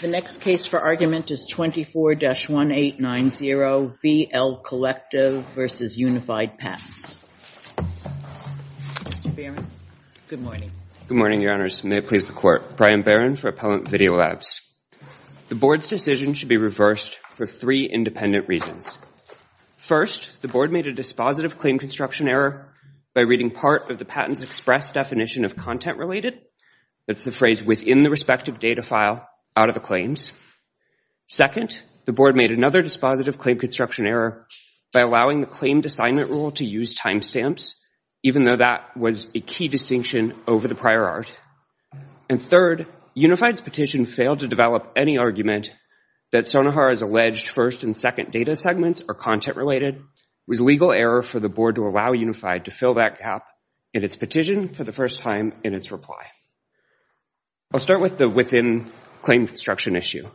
The next case for argument is 24-1890, VL Collective v. Unified Patents. Mr. Barron. Good morning. Good morning, Your Honors. May it please the Court. Brian Barron for Appellant Video Labs. The Board's decision should be reversed for three independent reasons. First, the Board made a dispositive claim construction error by reading part of the patent's express definition of content-related, that's the phrase within the respective data out of the claims. Second, the Board made another dispositive claim construction error by allowing the claimed assignment rule to use timestamps, even though that was a key distinction over the prior art. And third, Unified's petition failed to develop any argument that Sonohar's alleged first and second data segments are content-related. It was a legal error for the Board to allow Unified to fill that gap in its petition for the first time in its reply. I'll start with the within claim construction issue.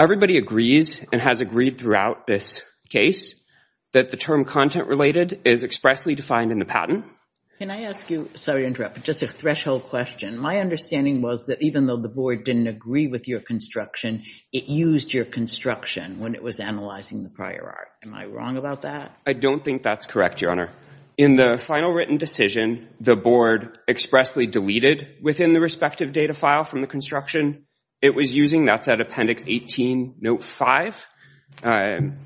Everybody agrees and has agreed throughout this case that the term content-related is expressly defined in the patent. Can I ask you, sorry to interrupt, but just a threshold question. My understanding was that even though the Board didn't agree with your construction, it used your construction when it was analyzing the prior art. Am I wrong about that? I don't think that's correct, Your Honor. In the final written decision, the Board expressly deleted within the respective data file from the construction it was using. That's at Appendix 18, Note 5. And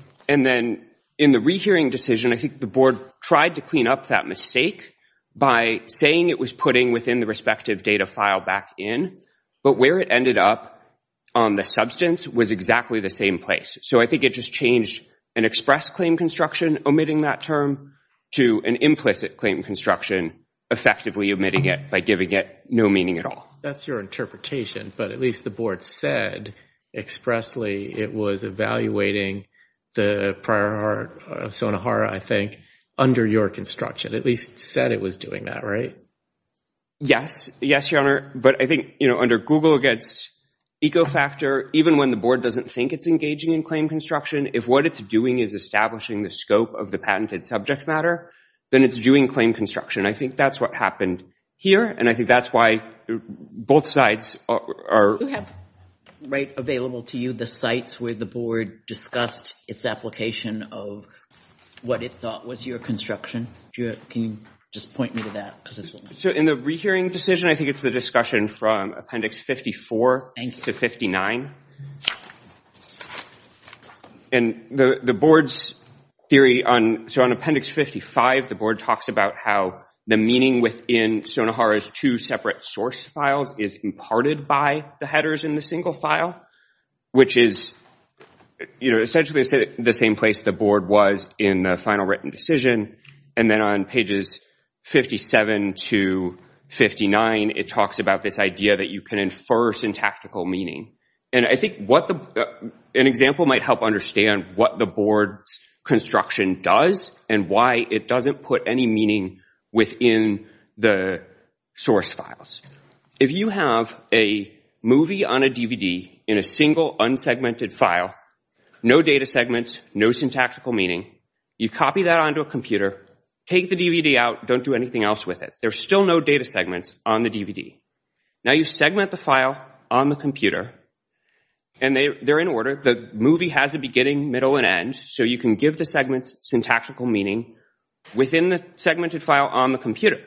then in the rehearing decision, I think the Board tried to clean up that mistake by saying it was putting within the respective data file back in, but where it ended up on the substance was exactly the same place. So I think it just changed an express claim construction omitting that term to an implicit claim construction effectively omitting it by giving it no meaning at all. That's your interpretation, but at least the Board said expressly it was evaluating the prior art of Sonohara, I think, under your construction. At least said it was doing that, right? Yes. Yes, Your Honor. But I think, you know, Google gets eco-factor even when the Board doesn't think it's engaging in claim construction. If what it's doing is establishing the scope of the patented subject matter, then it's doing claim construction. I think that's what happened here, and I think that's why both sides are— You have, right, available to you the sites where the Board discussed its application of what it thought was your construction. Can you just point me to that? So in the rehearing decision, I think it's the discussion from Appendix 54 to 59. And the Board's theory on—so on Appendix 55, the Board talks about how the meaning within Sonohara's two separate source files is imparted by the headers in the single file, which is, you know, essentially the same place the Board was in the final written decision. And then on pages 57 to 59, it talks about this idea that you can infer syntactical meaning. And I think an example might help understand what the Board's construction does and why it doesn't put any meaning within the source files. If you have a movie on a DVD in a single, unsegmented file, no data segments, no syntactical meaning, you copy that onto a computer, take the DVD out, don't do anything else with it. There's still no data segments on the DVD. Now you segment the file on the computer, and they're in order. The movie has a beginning, middle, and end, so you can give the segments syntactical meaning within the segmented file on the computer.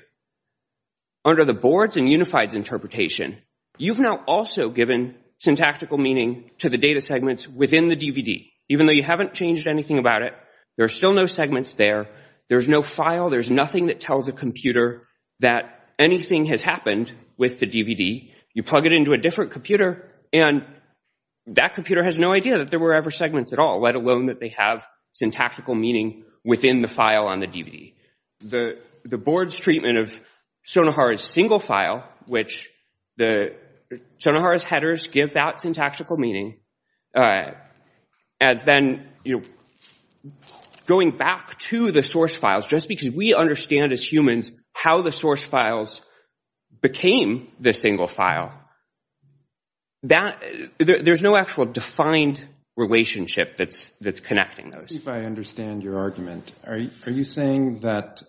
Under the Board's and Unified's interpretation, you've now also given syntactical meaning to the data segments within the DVD. Even though you haven't changed anything about it, there are still no segments there. There's no file. There's nothing that tells a computer that anything has happened with the DVD. You plug it into a different computer, and that computer has no idea that there were ever segments at all, let alone that they have syntactical meaning within the file on the DVD. The Board's treatment of Sonohara's single file, which Sonohara's headers give that syntactical meaning, as then going back to the source files, just because we understand as humans how the source files became the single file, there's no actual defined relationship that's connecting those. If I understand your argument, are you saying that,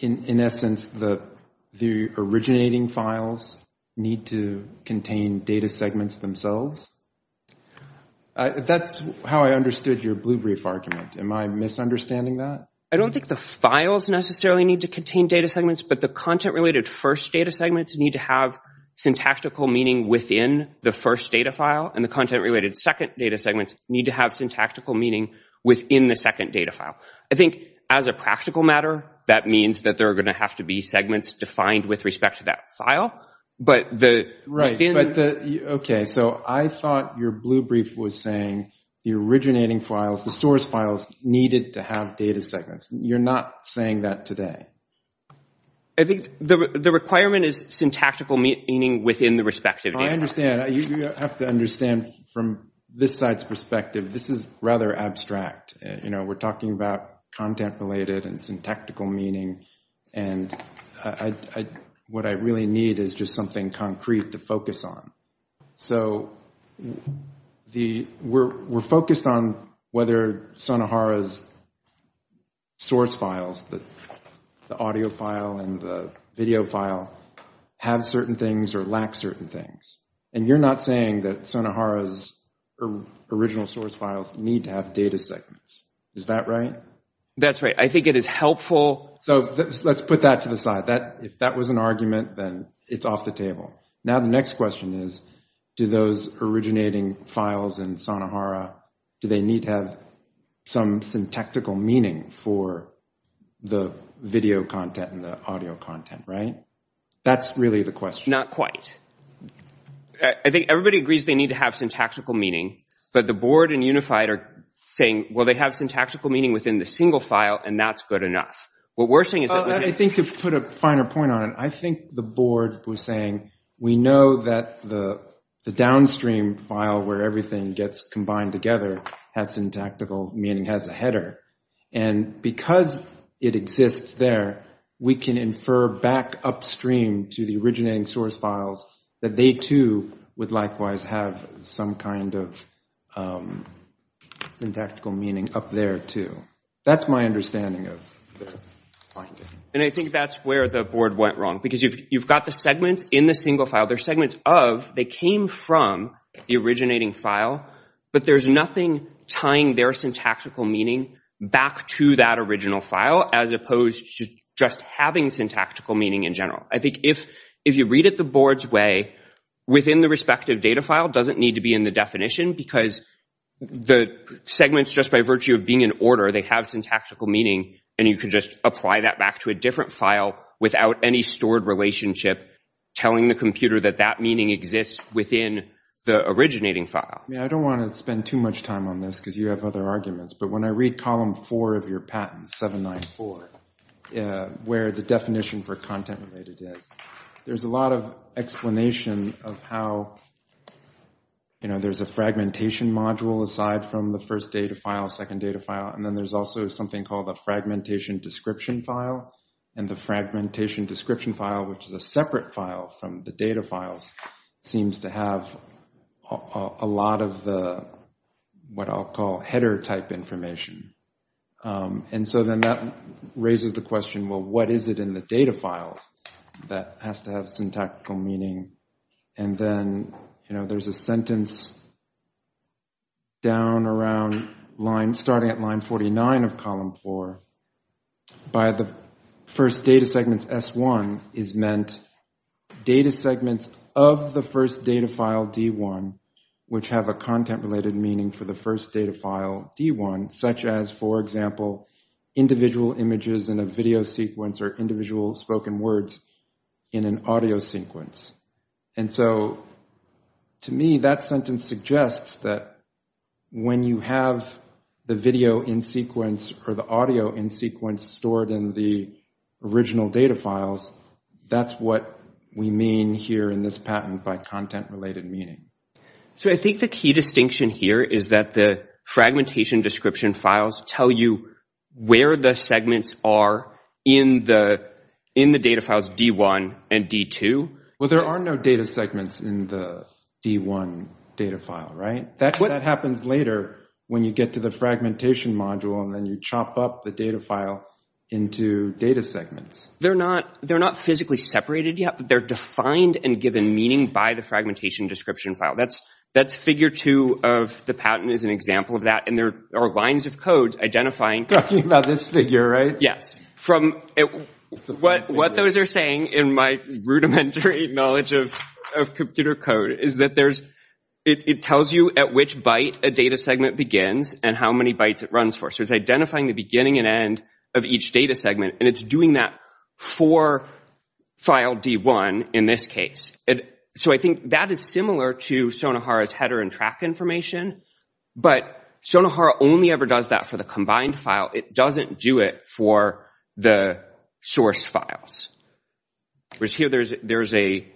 in essence, the originating files need to contain data segments themselves? That's how I understood your blue brief argument. Am I misunderstanding that? I don't think the files necessarily need to contain data segments, but the content-related first data segments need to have syntactical meaning within the first data file, and the content-related second data segments need to have syntactical meaning within the second data file. I think, as a practical matter, that means that there are going to have to be segments defined with respect to that file. OK, so I thought your blue brief was saying the originating files, the source files, needed to have data segments. You're not saying that today. I think the requirement is syntactical meaning within the respective data files. You have to understand from this side's perspective, this is rather abstract. We're talking about content-related and syntactical meaning, and what I really need is just something concrete to focus on. We're focused on whether Sonohara's source files, the audio file and the video file, have certain things or lack certain things, and you're not saying that Sonohara's original source files need to have data segments. Is that right? That's right. I think it is helpful. So let's put that to the side. If that was an argument, then it's off the table. Now the next question is, do those originating files in Sonohara, do they need to have some syntactical meaning for the video content and the audio content, right? That's really the question. Not quite. I think everybody agrees they need to have syntactical meaning, but the board and Unified are saying, well, they have syntactical meaning within the single file, and that's good enough. What we're saying is that— I think to put a finer point on it, I think the board was saying, we know that the downstream file where everything gets combined together has syntactical meaning, has a header. And because it exists there, we can infer back upstream to the originating source files that they too would likewise have some kind of syntactical meaning up there too. That's my understanding of the finding. And I think that's where the board went wrong. Because you've got the segments in the single file, they're segments of—they came from the originating file, but there's nothing tying their syntactical meaning back to that original file as opposed to just having syntactical meaning in general. I think if you read it the board's way, within the respective data file doesn't need to be in the definition, because the segments, just by virtue of being in order, they have syntactical meaning, and you can just apply that back to a different file without any stored relationship telling the computer that that meaning exists within the originating file. Yeah, I don't want to spend too much time on this because you have other arguments, but when I read column four of your patent, 794, where the definition for content-related is, there's a lot of explanation of how, you know, there's a fragmentation module aside from the first data file, second data file, and then there's also something called a fragmentation description file, and the fragmentation description file, which is a separate file from the data files, seems to have a lot of the, what I'll call, header-type information. And so then that raises the question, well, what is it in the data files that has to have syntactical meaning? And then, you know, there's a sentence down around line, starting at line 49 of column four, by the first data segments, S1, is meant data segments of the first data file, D1, which have a content-related meaning for the first data file, D1, such as, for example, individual images in a video sequence or individual spoken words in an audio sequence. And so to me, that sentence suggests that when you have the video in sequence or the audio in sequence stored in the original data files, that's what we mean here in this patent by content-related meaning. So I think the key distinction here is that the fragmentation description files tell you where the segments are in the data files D1 and D2. Well, there are no data segments in the D1 data file, right? That happens later when you get to the fragmentation module, and then you chop up the data file into data segments. They're not physically separated yet, but they're defined and given meaning by the And there are lines of code identifying... Talking about this figure, right? Yes. What those are saying, in my rudimentary knowledge of computer code, is that it tells you at which byte a data segment begins and how many bytes it runs for. So it's identifying the beginning and end of each data segment, and it's doing that for file D1 in this case. So I think that is to Sonohara's header and track information, but Sonohara only ever does that for the combined file. It doesn't do it for the source files. Whereas here, there's a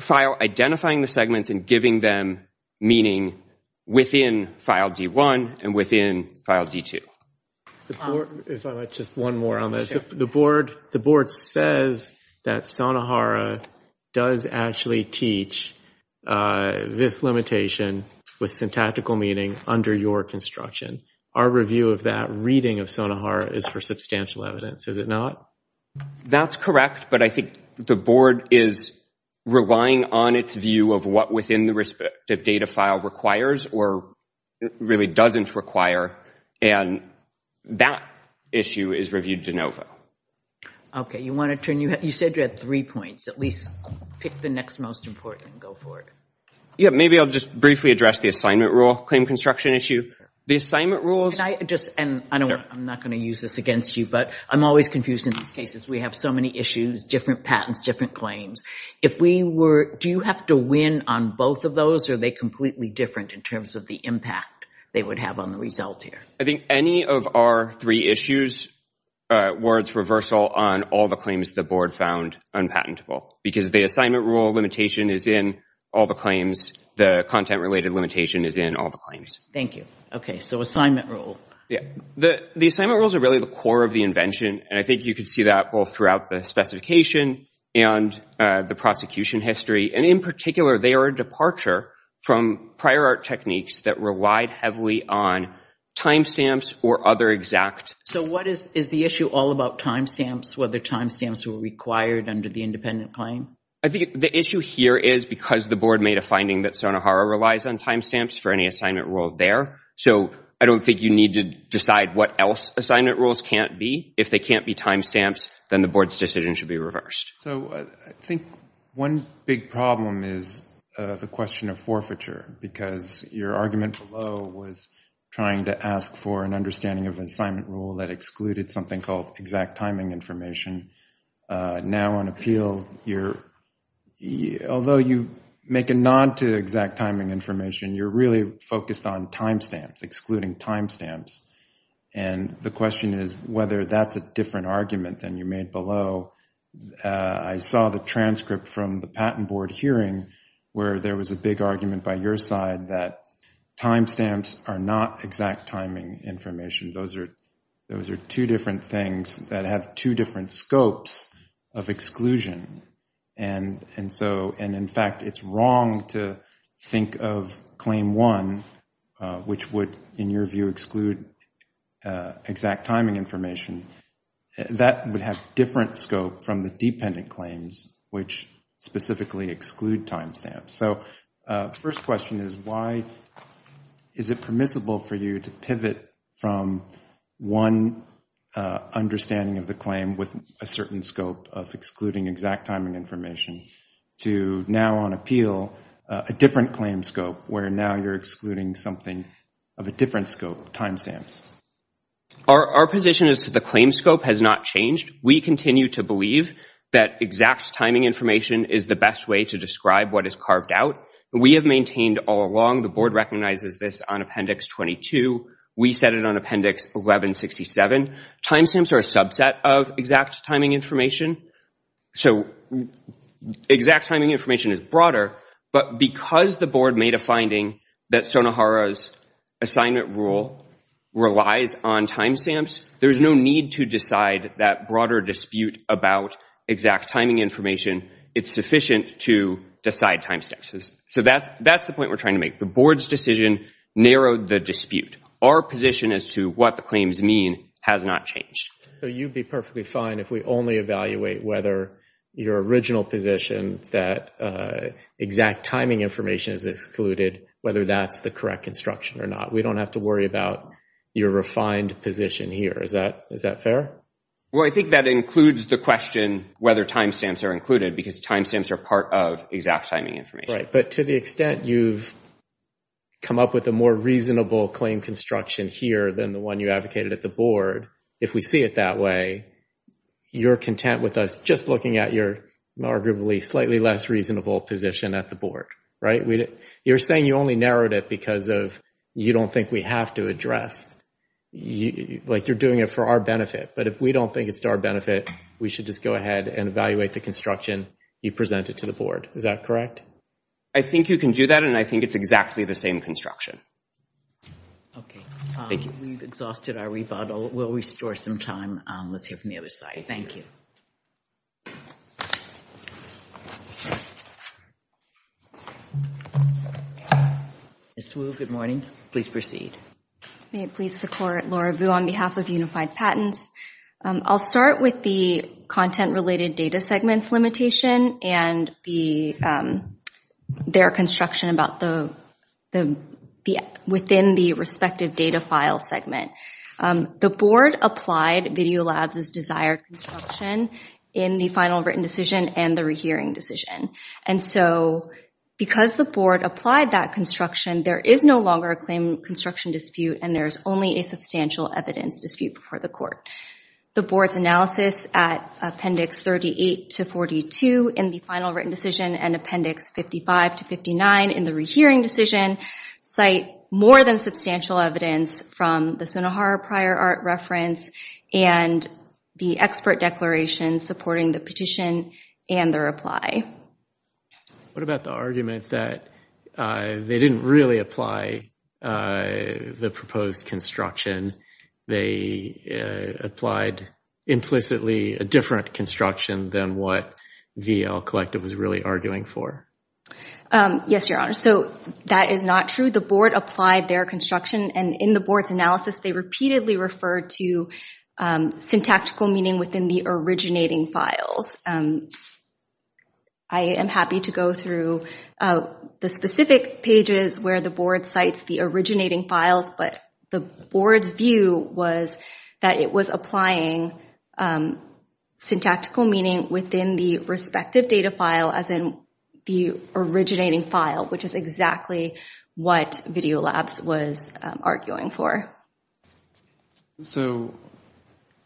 file identifying the segments and giving them meaning within file D1 and within file D2. If I might, just one more on this. The board says that Sonohara does actually teach this limitation with syntactical meaning under your construction. Our review of that reading of Sonohara is for substantial evidence. Is it not? That's correct, but I think the board is relying on its view of what within the respective data file requires or really doesn't require, and that issue is reviewed de novo. Okay. You said you had three points. At least pick the next most important and go for it. Yeah, maybe I'll just briefly address the assignment rule claim construction issue. The assignment rules... Can I just... I'm not going to use this against you, but I'm always confused in these cases. We have so many issues, different patents, different claims. If we were... Do you have to win on both of those, or are they completely different in terms of the impact they would have on the result here? I think any of our three issues were its reversal on all the claims the board found unpatentable, because the assignment rule limitation is in all the claims. The content-related limitation is in all the claims. Thank you. Okay, so assignment rule. Yeah. The assignment rules are really the core of the invention, and I think you could see that both throughout the specification and the prosecution history, and in particular, they are a departure from prior art techniques that relied heavily on timestamps or other exact... So what is... Is the issue all about timestamps, whether timestamps were required under the independent claim? I think the issue here is because the board made a finding that Sonohara relies on timestamps for any assignment rule there, so I don't think you need to decide what else assignment rules can't be. If they can't be timestamps, then the board's decision should be reversed. So I think one big problem is the question of forfeiture, because your argument below was trying to ask for an understanding of an assignment rule that excluded something called exact timing information. Now on appeal, you're... Although you make a nod to exact timing information, you're really focused on timestamps, excluding timestamps, and the question is whether that's a different argument than you made below. I saw the transcript from the patent board hearing where there was a big argument by your side that timestamps are not exact timing information. Those are two different things that have two different scopes of exclusion, and in fact, it's wrong to think of claim one, which would, in your view, exclude exact timing information. That would have different scope from the dependent claims, which specifically exclude timestamps. So first question is why is it permissible for you to pivot from one understanding of the claim with a certain scope of excluding exact timing information to now on appeal a different claim scope where now you're excluding something of a different scope, timestamps? Our position is that the claim scope has not changed. We continue to believe that exact timing information is the best way to describe what is carved out. We have maintained all along, the board recognizes this on Appendix 22. We set it on Appendix 1167. Timestamps are a subset of exact timing information. So exact timing information is broader, but because the board made a finding that Sonohara's assignment rule relies on timestamps, there's no need to decide that broader dispute about exact timing information. It's sufficient to decide timestamps. So that's the point we're trying to make. The board's decision narrowed the dispute. Our position as to what the claims mean has not changed. So you'd be perfectly fine if we only evaluate whether your original position that exact timing information is excluded, whether that's the correct construction or not. We don't have to worry about your refined position here. Is that fair? Well, I think that includes the question whether timestamps are included because timestamps are part of exact timing information. Right. But to the extent you've come up with a more reasonable claim construction here than the one you advocated at the board, if we see it that way, you're content with us just looking at your arguably slightly less reasonable position at the board, right? You're saying you only narrowed it because of you don't think we have to address, like you're doing it for our benefit. But if we don't think it's to our benefit, we should just go ahead and evaluate the construction you presented to the board. Is that correct? I think you can do that and I think it's exactly the same construction. Okay, we've exhausted our rebuttal. We'll restore some time. Let's hear from the other side. Thank you. Ms. Wu, good morning. Please proceed. May it please the court, Laura Wu on behalf of Unified Patents. I'll start with the content-related data segments limitation and their construction within the respective data file segment. The board applied VideoLabs' desired construction in the final written decision and the rehearing decision. And so because the board applied that construction, there is no longer a claim construction dispute and there's only a substantial evidence dispute before the court. The board's analysis at appendix 38 to 42 in the final written decision and appendix 55 to 59 in the rehearing decision cite more than substantial evidence from the Sonohar prior art reference and the expert declaration supporting the petition and the reply. What about the argument that they didn't really apply the proposed construction? They applied implicitly a different construction than what VL Collective was really arguing for? Yes, your honor. So that is not true. The board applied their construction and in the board's analysis, they repeatedly referred to syntactical meaning within the originating files. I am happy to go through the specific pages where the board cites the originating files, but the board's view was that it was applying syntactical meaning within the respective data file as in the originating file, which is exactly what VideoLabs was arguing for. So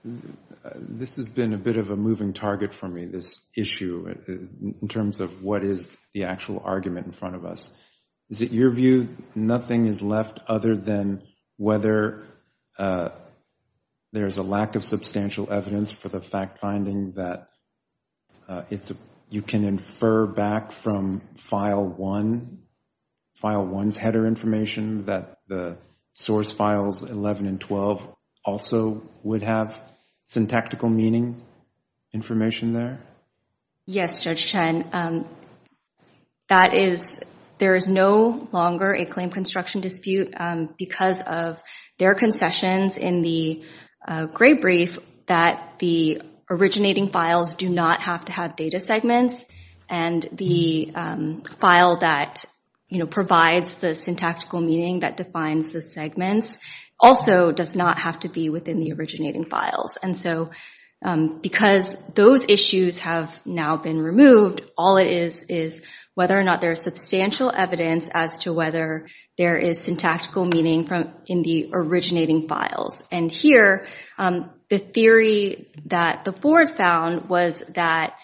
this has been a bit of a moving target for me, this issue in terms of what is the actual there is a lack of substantial evidence for the fact finding that you can infer back from file one's header information that the source files 11 and 12 also would have syntactical meaning information there? Yes, Judge Chen. And that is there is no longer a claim construction dispute because of their concessions in the gray brief that the originating files do not have to have data segments and the file that provides the syntactical meaning that defines the segments also does not have to be within the files. Because those issues have now been removed, all it is is whether or not there is substantial evidence as to whether there is syntactical meaning in the originating files. And here, the theory that the board found was that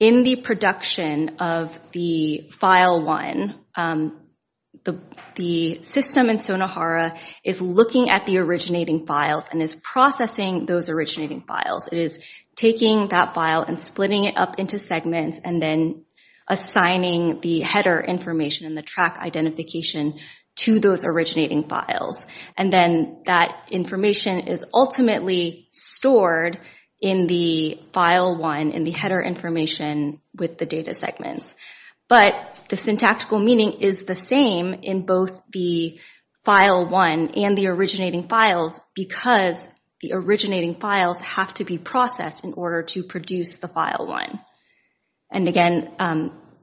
in the production of the file one, the system in Sonohara is looking at the originating files and is processing those originating files. It is taking that file and splitting it up into segments and then assigning the header information and the track identification to those originating files. And then that information is ultimately stored in the file one, in the header information with the data segments. But the syntactical meaning is the same in both the file one and the originating files because the originating files have to be processed in order to produce the file one. And again,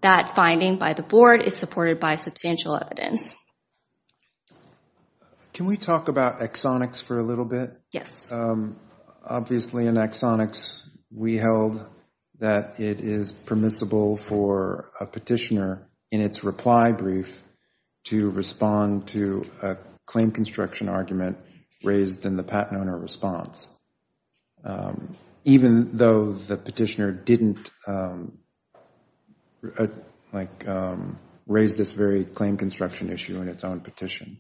that finding by the board is supported by substantial evidence. Can we talk about exonics for a little bit? Yes. Obviously, in exonics, we held that it is permissible for a petitioner in its reply brief to respond to a claim construction argument raised in the patent owner response, even though the petitioner didn't raise this very claim construction issue in its own petition.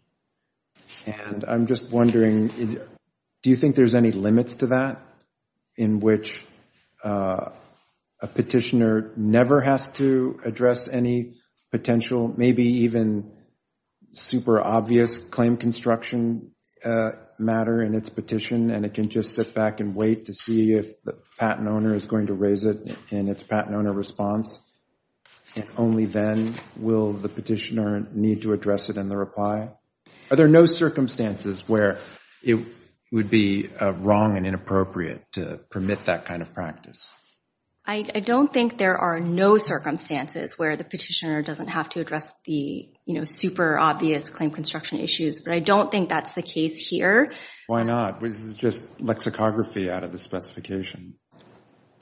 And I'm just wondering, do you think there's any limits to that, in which a petitioner never has to address any potential, maybe even super obvious claim construction matter in its petition, and it can just sit back and wait to see if the patent owner is going to raise it in its patent owner response? And only then will the petitioner need to address it in the reply? Are there no circumstances where it would be wrong and inappropriate to permit that kind of practice? I don't think there are no circumstances where the petitioner doesn't have to address the super obvious claim construction issues, but I don't think that's the case here. Why not? This is just lexicography out of the specification.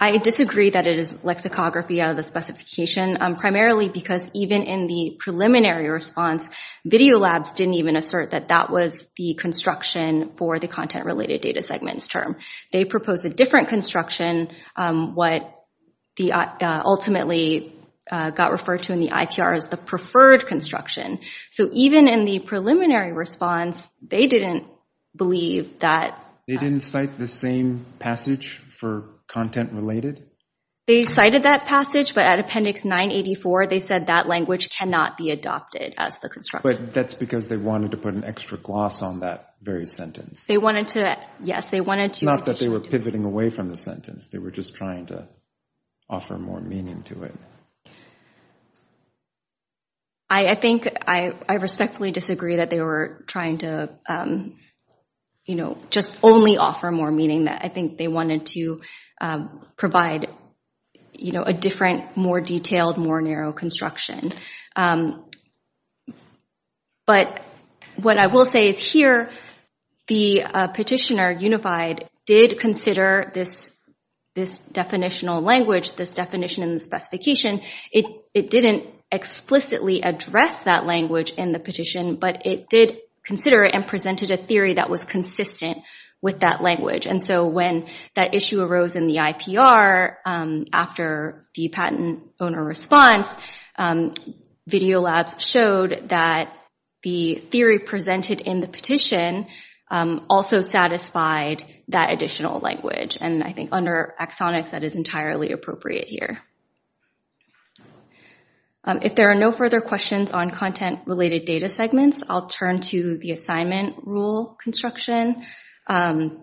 I disagree that it is lexicography out of the specification, primarily because even in the preliminary response, video labs didn't even assert that that was the construction for the content-related data segments term. They proposed a different construction, what ultimately got referred to in the IPR as the preferred construction. So even in the preliminary response, they didn't believe that— They didn't cite the same passage for content-related? They cited that passage, but at appendix 984, they said that language cannot be adopted as the construction. But that's because they wanted to put an extra gloss on that very sentence. They wanted to, yes, they wanted to— Not that they were pivoting away from the sentence. They were just trying to offer more meaning to it. I think I respectfully disagree that they were trying to, you know, just only offer more meaning that I think they wanted to provide, you know, a different, more detailed, more narrow construction. But what I will say is here, the petitioner, Unified, did consider this definitional language, this definition in the specification. It didn't explicitly address that language in the petition, but it did consider it and presented a theory that was consistent with that language. And so when that issue arose in the IPR after the patent owner response, video labs showed that the theory presented in the petition also satisfied that additional language. And I think under axonics, that is entirely appropriate here. If there are no further questions on content-related data segments, I'll turn to the assignment rule construction. I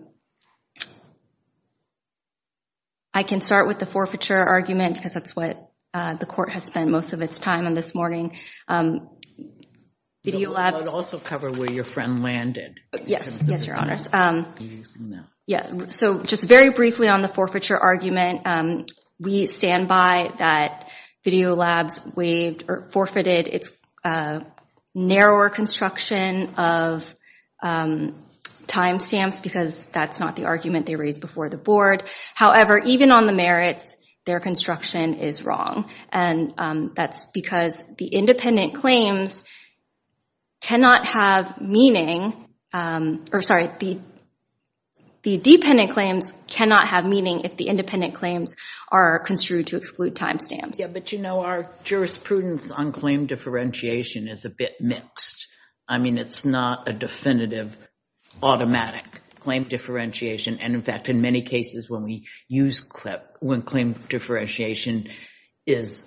can start with the forfeiture argument because that's what the court has spent most of its time on this morning. Video labs— I'd also cover where your friend landed. Yes. Yes, Your Honors. Are you using that? Yes. So just very briefly on the forfeiture argument, we stand by that video labs waived or forfeited its narrower construction of timestamps because that's not the argument they raised before the board. However, even on the merits, their construction is wrong. And that's because the independent claims cannot have meaning—or sorry, the dependent claims cannot have meaning if the independent claims are construed to exclude timestamps. But you know, our jurisprudence on claim differentiation is a bit mixed. I mean, it's not a definitive automatic claim differentiation. And in fact, in many cases when claim differentiation is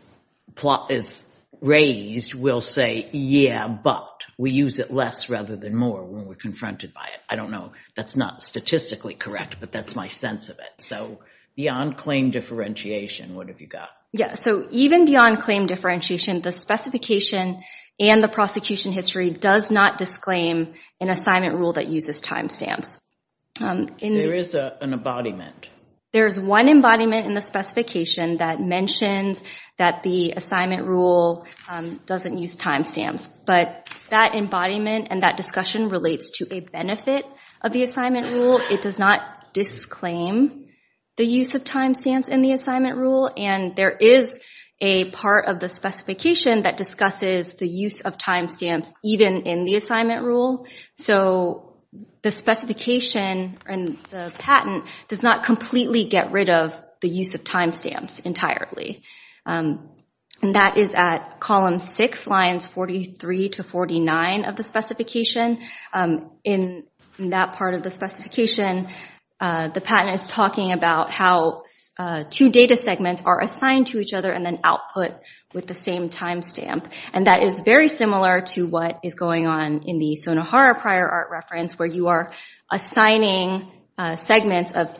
raised, we'll say, yeah, but we use it less rather than more when we're confronted by it. I don't know. That's not statistically correct, but that's my sense of it. So beyond claim differentiation, what have you got? Yeah. So even beyond claim differentiation, the specification and the prosecution history does not disclaim an assignment rule that uses timestamps. There is an embodiment. There's one embodiment in the specification that mentions that the assignment rule doesn't use timestamps. But that embodiment and that discussion relates to a benefit of the assignment rule. It does not disclaim the use of timestamps in the assignment rule. And there is a part of the specification that discusses the use of timestamps even in the assignment rule. So the specification and the patent does not completely get rid of the use of timestamps entirely. And that is at column six, lines 43 to 49 of the specification. In that part of the specification, the patent is talking about how two data segments are assigned to each other and then output with the same timestamp. And that is very similar to what is going on in the Sonohara prior art reference, where you are assigning segments of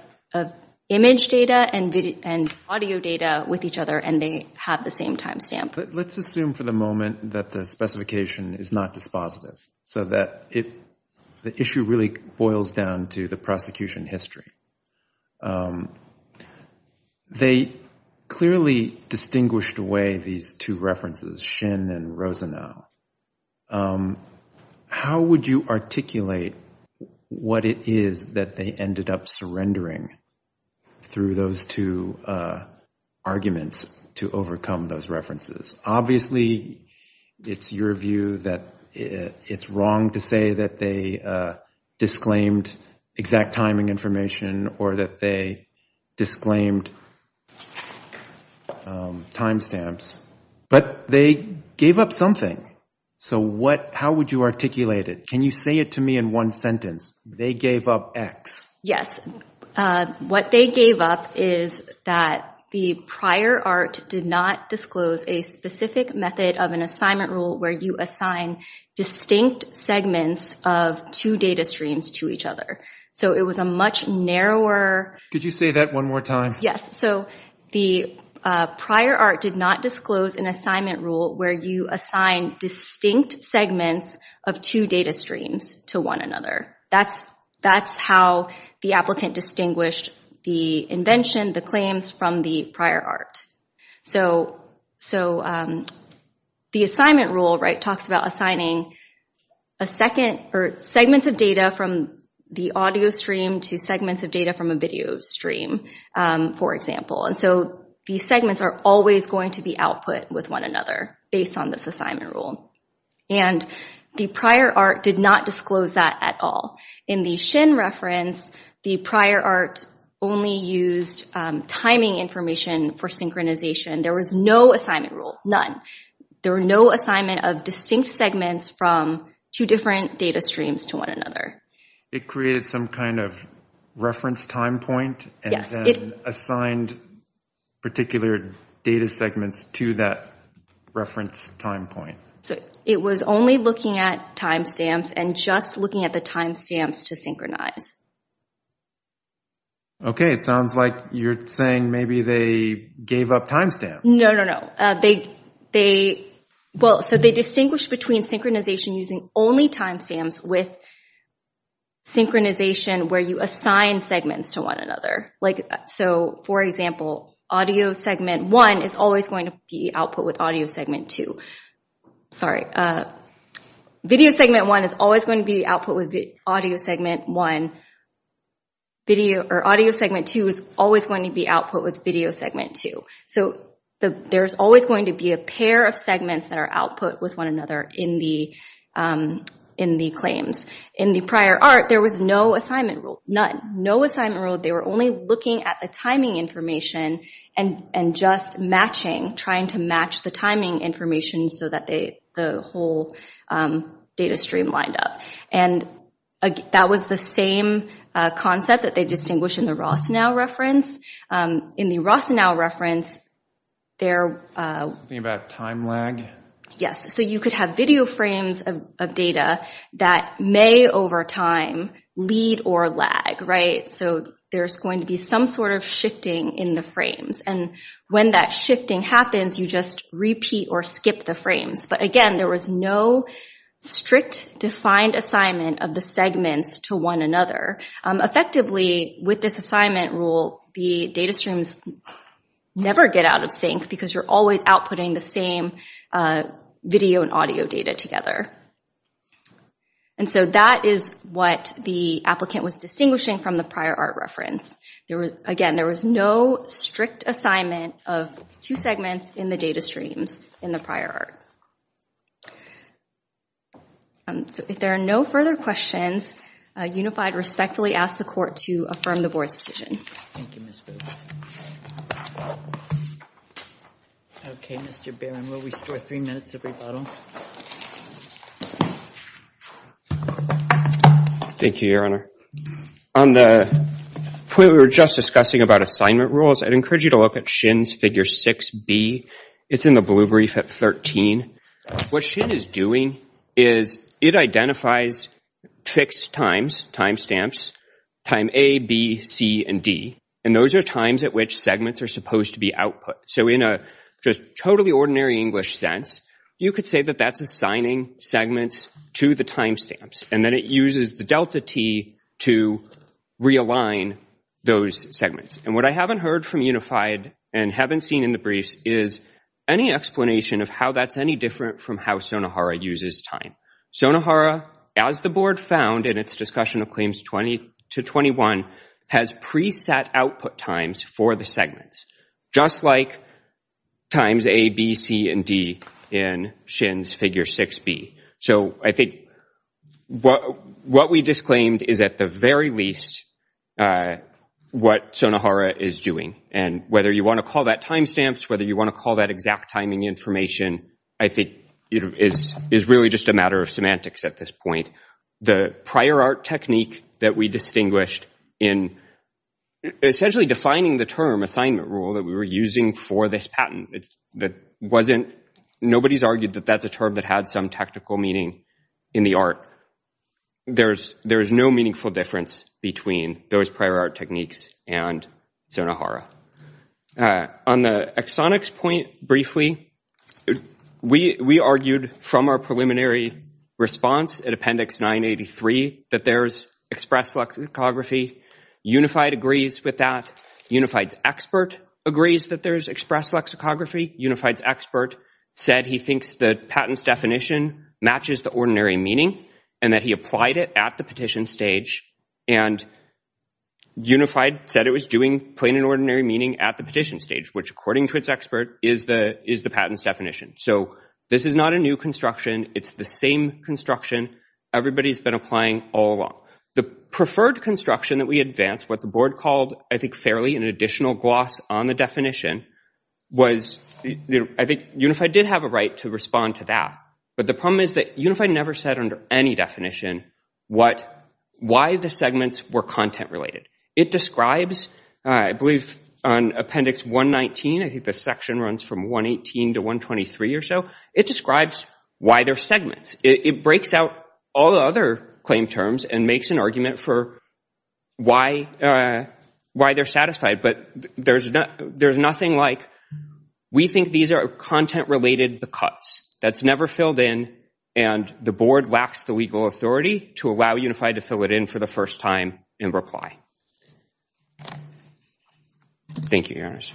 image data and audio data with each other, and they have the same timestamp. Let's assume for the moment that the specification is not dispositive, so that the issue really boils down to the prosecution history. They clearly distinguished away these two references, Shin and Rosenow. How would you articulate what it is that they ended up surrendering through those two arguments to overcome those references? Obviously, it's your view that it's wrong to say that they disclaimed exact timing information or that they disclaimed timestamps. But they gave up something. So how would you articulate it? Can you say it to me in one sentence? They gave up X. Yes. What they gave up is that the prior art did not disclose a specific method of an assignment rule where you assign distinct segments of two data streams to each other. So it was a much narrower... Could you say that one more time? Yes. So the prior art did not disclose an assignment rule where you assign distinct segments of two data streams to one another. That's how the applicant distinguished the invention, the claims from the prior art. So the assignment rule talks about assigning segments of data from the audio stream to segments of data from a video stream. And so these segments are always going to be output with one another based on this assignment rule. And the prior art did not disclose that at all. In the Shin reference, the prior art only used timing information for synchronization. There was no assignment rule, none. There were no assignment of distinct segments from two different data streams to one another. It created some kind of reference time point and then assigned particular data segments to that reference time point. It was only looking at timestamps and just looking at the timestamps to synchronize. Okay. It sounds like you're saying maybe they gave up timestamps. No, no, no. They, well, so they distinguished between synchronization using only timestamps with synchronization where you assign segments to one another. So for example, audio segment one is always going to be output with audio segment two. Sorry. Video segment one is always going to be output with audio segment one. Audio segment two is always going to be output with video segment two. So there's always going to be a pair of segments that are output with one another in the claims. In the prior art, there was no assignment rule, none. No assignment rule. They were only looking at the timing information and just matching, trying to match the timing information so that the whole data stream lined up. And that was the same concept that they had. Something about time lag? Yes. So you could have video frames of data that may over time lead or lag, right? So there's going to be some sort of shifting in the frames. And when that shifting happens, you just repeat or skip the frames. But again, there was no strict defined assignment of the segments to one another. Effectively, with this assignment rule, the data streams never get out of sync because you're always outputting the same video and audio data together. And so that is what the applicant was distinguishing from the prior art reference. Again, there was no strict assignment of two segments in the data streams in the prior art. So if there are no further questions, unified respectfully ask the court to affirm the board's decision. Okay, Mr. Barron, we'll restore three minutes of rebuttal. Thank you, Your Honor. On the point we were just discussing about assignment rules, I'd encourage you to look at Shin's figure 6B. It's in the blue brief at 13. What Shin is doing is it identifies fixed times, timestamps, time A, B, C, and D. And those are times at which segments are supposed to be output. So in a just totally ordinary English sense, you could say that that's assigning segments to the timestamps. And then it uses the delta T to realign those segments. And what I haven't heard from unified and haven't seen in the briefs is any explanation of how that's any from how Sonohara uses time. Sonohara, as the board found in its discussion of claims 20 to 21, has preset output times for the segments, just like times A, B, C, and D in Shin's figure 6B. So I think what we disclaimed is at the very least what Sonohara is doing. And whether you want to call that exact timing information, I think it is really just a matter of semantics at this point. The prior art technique that we distinguished in essentially defining the term assignment rule that we were using for this patent, nobody's argued that that's a term that had some technical meaning in the art. There's no meaningful difference between those prior art techniques and Sonohara. On the exonics point briefly, we argued from our preliminary response at Appendix 983 that there's express lexicography. Unified agrees with that. Unified's expert agrees that there's express lexicography. Unified's expert said he thinks the patent's definition matches the ordinary meaning and that he applied it at the petition stage. And unified said it was doing an ordinary meaning at the petition stage, which according to its expert is the patent's definition. So this is not a new construction. It's the same construction everybody's been applying all along. The preferred construction that we advanced, what the board called I think fairly an additional gloss on the definition, was I think unified did have a right to respond to that. But the problem is that unified never said under any definition why the segments were content related. It describes, I believe on Appendix 119, I think the section runs from 118 to 123 or so, it describes why they're segments. It breaks out all the other claim terms and makes an argument for why they're satisfied. But there's nothing like we think these are content related because. That's never filled in and the board lacks the legal authority to allow unified to fill it in for the first time in reply. Thank you, Your Honors.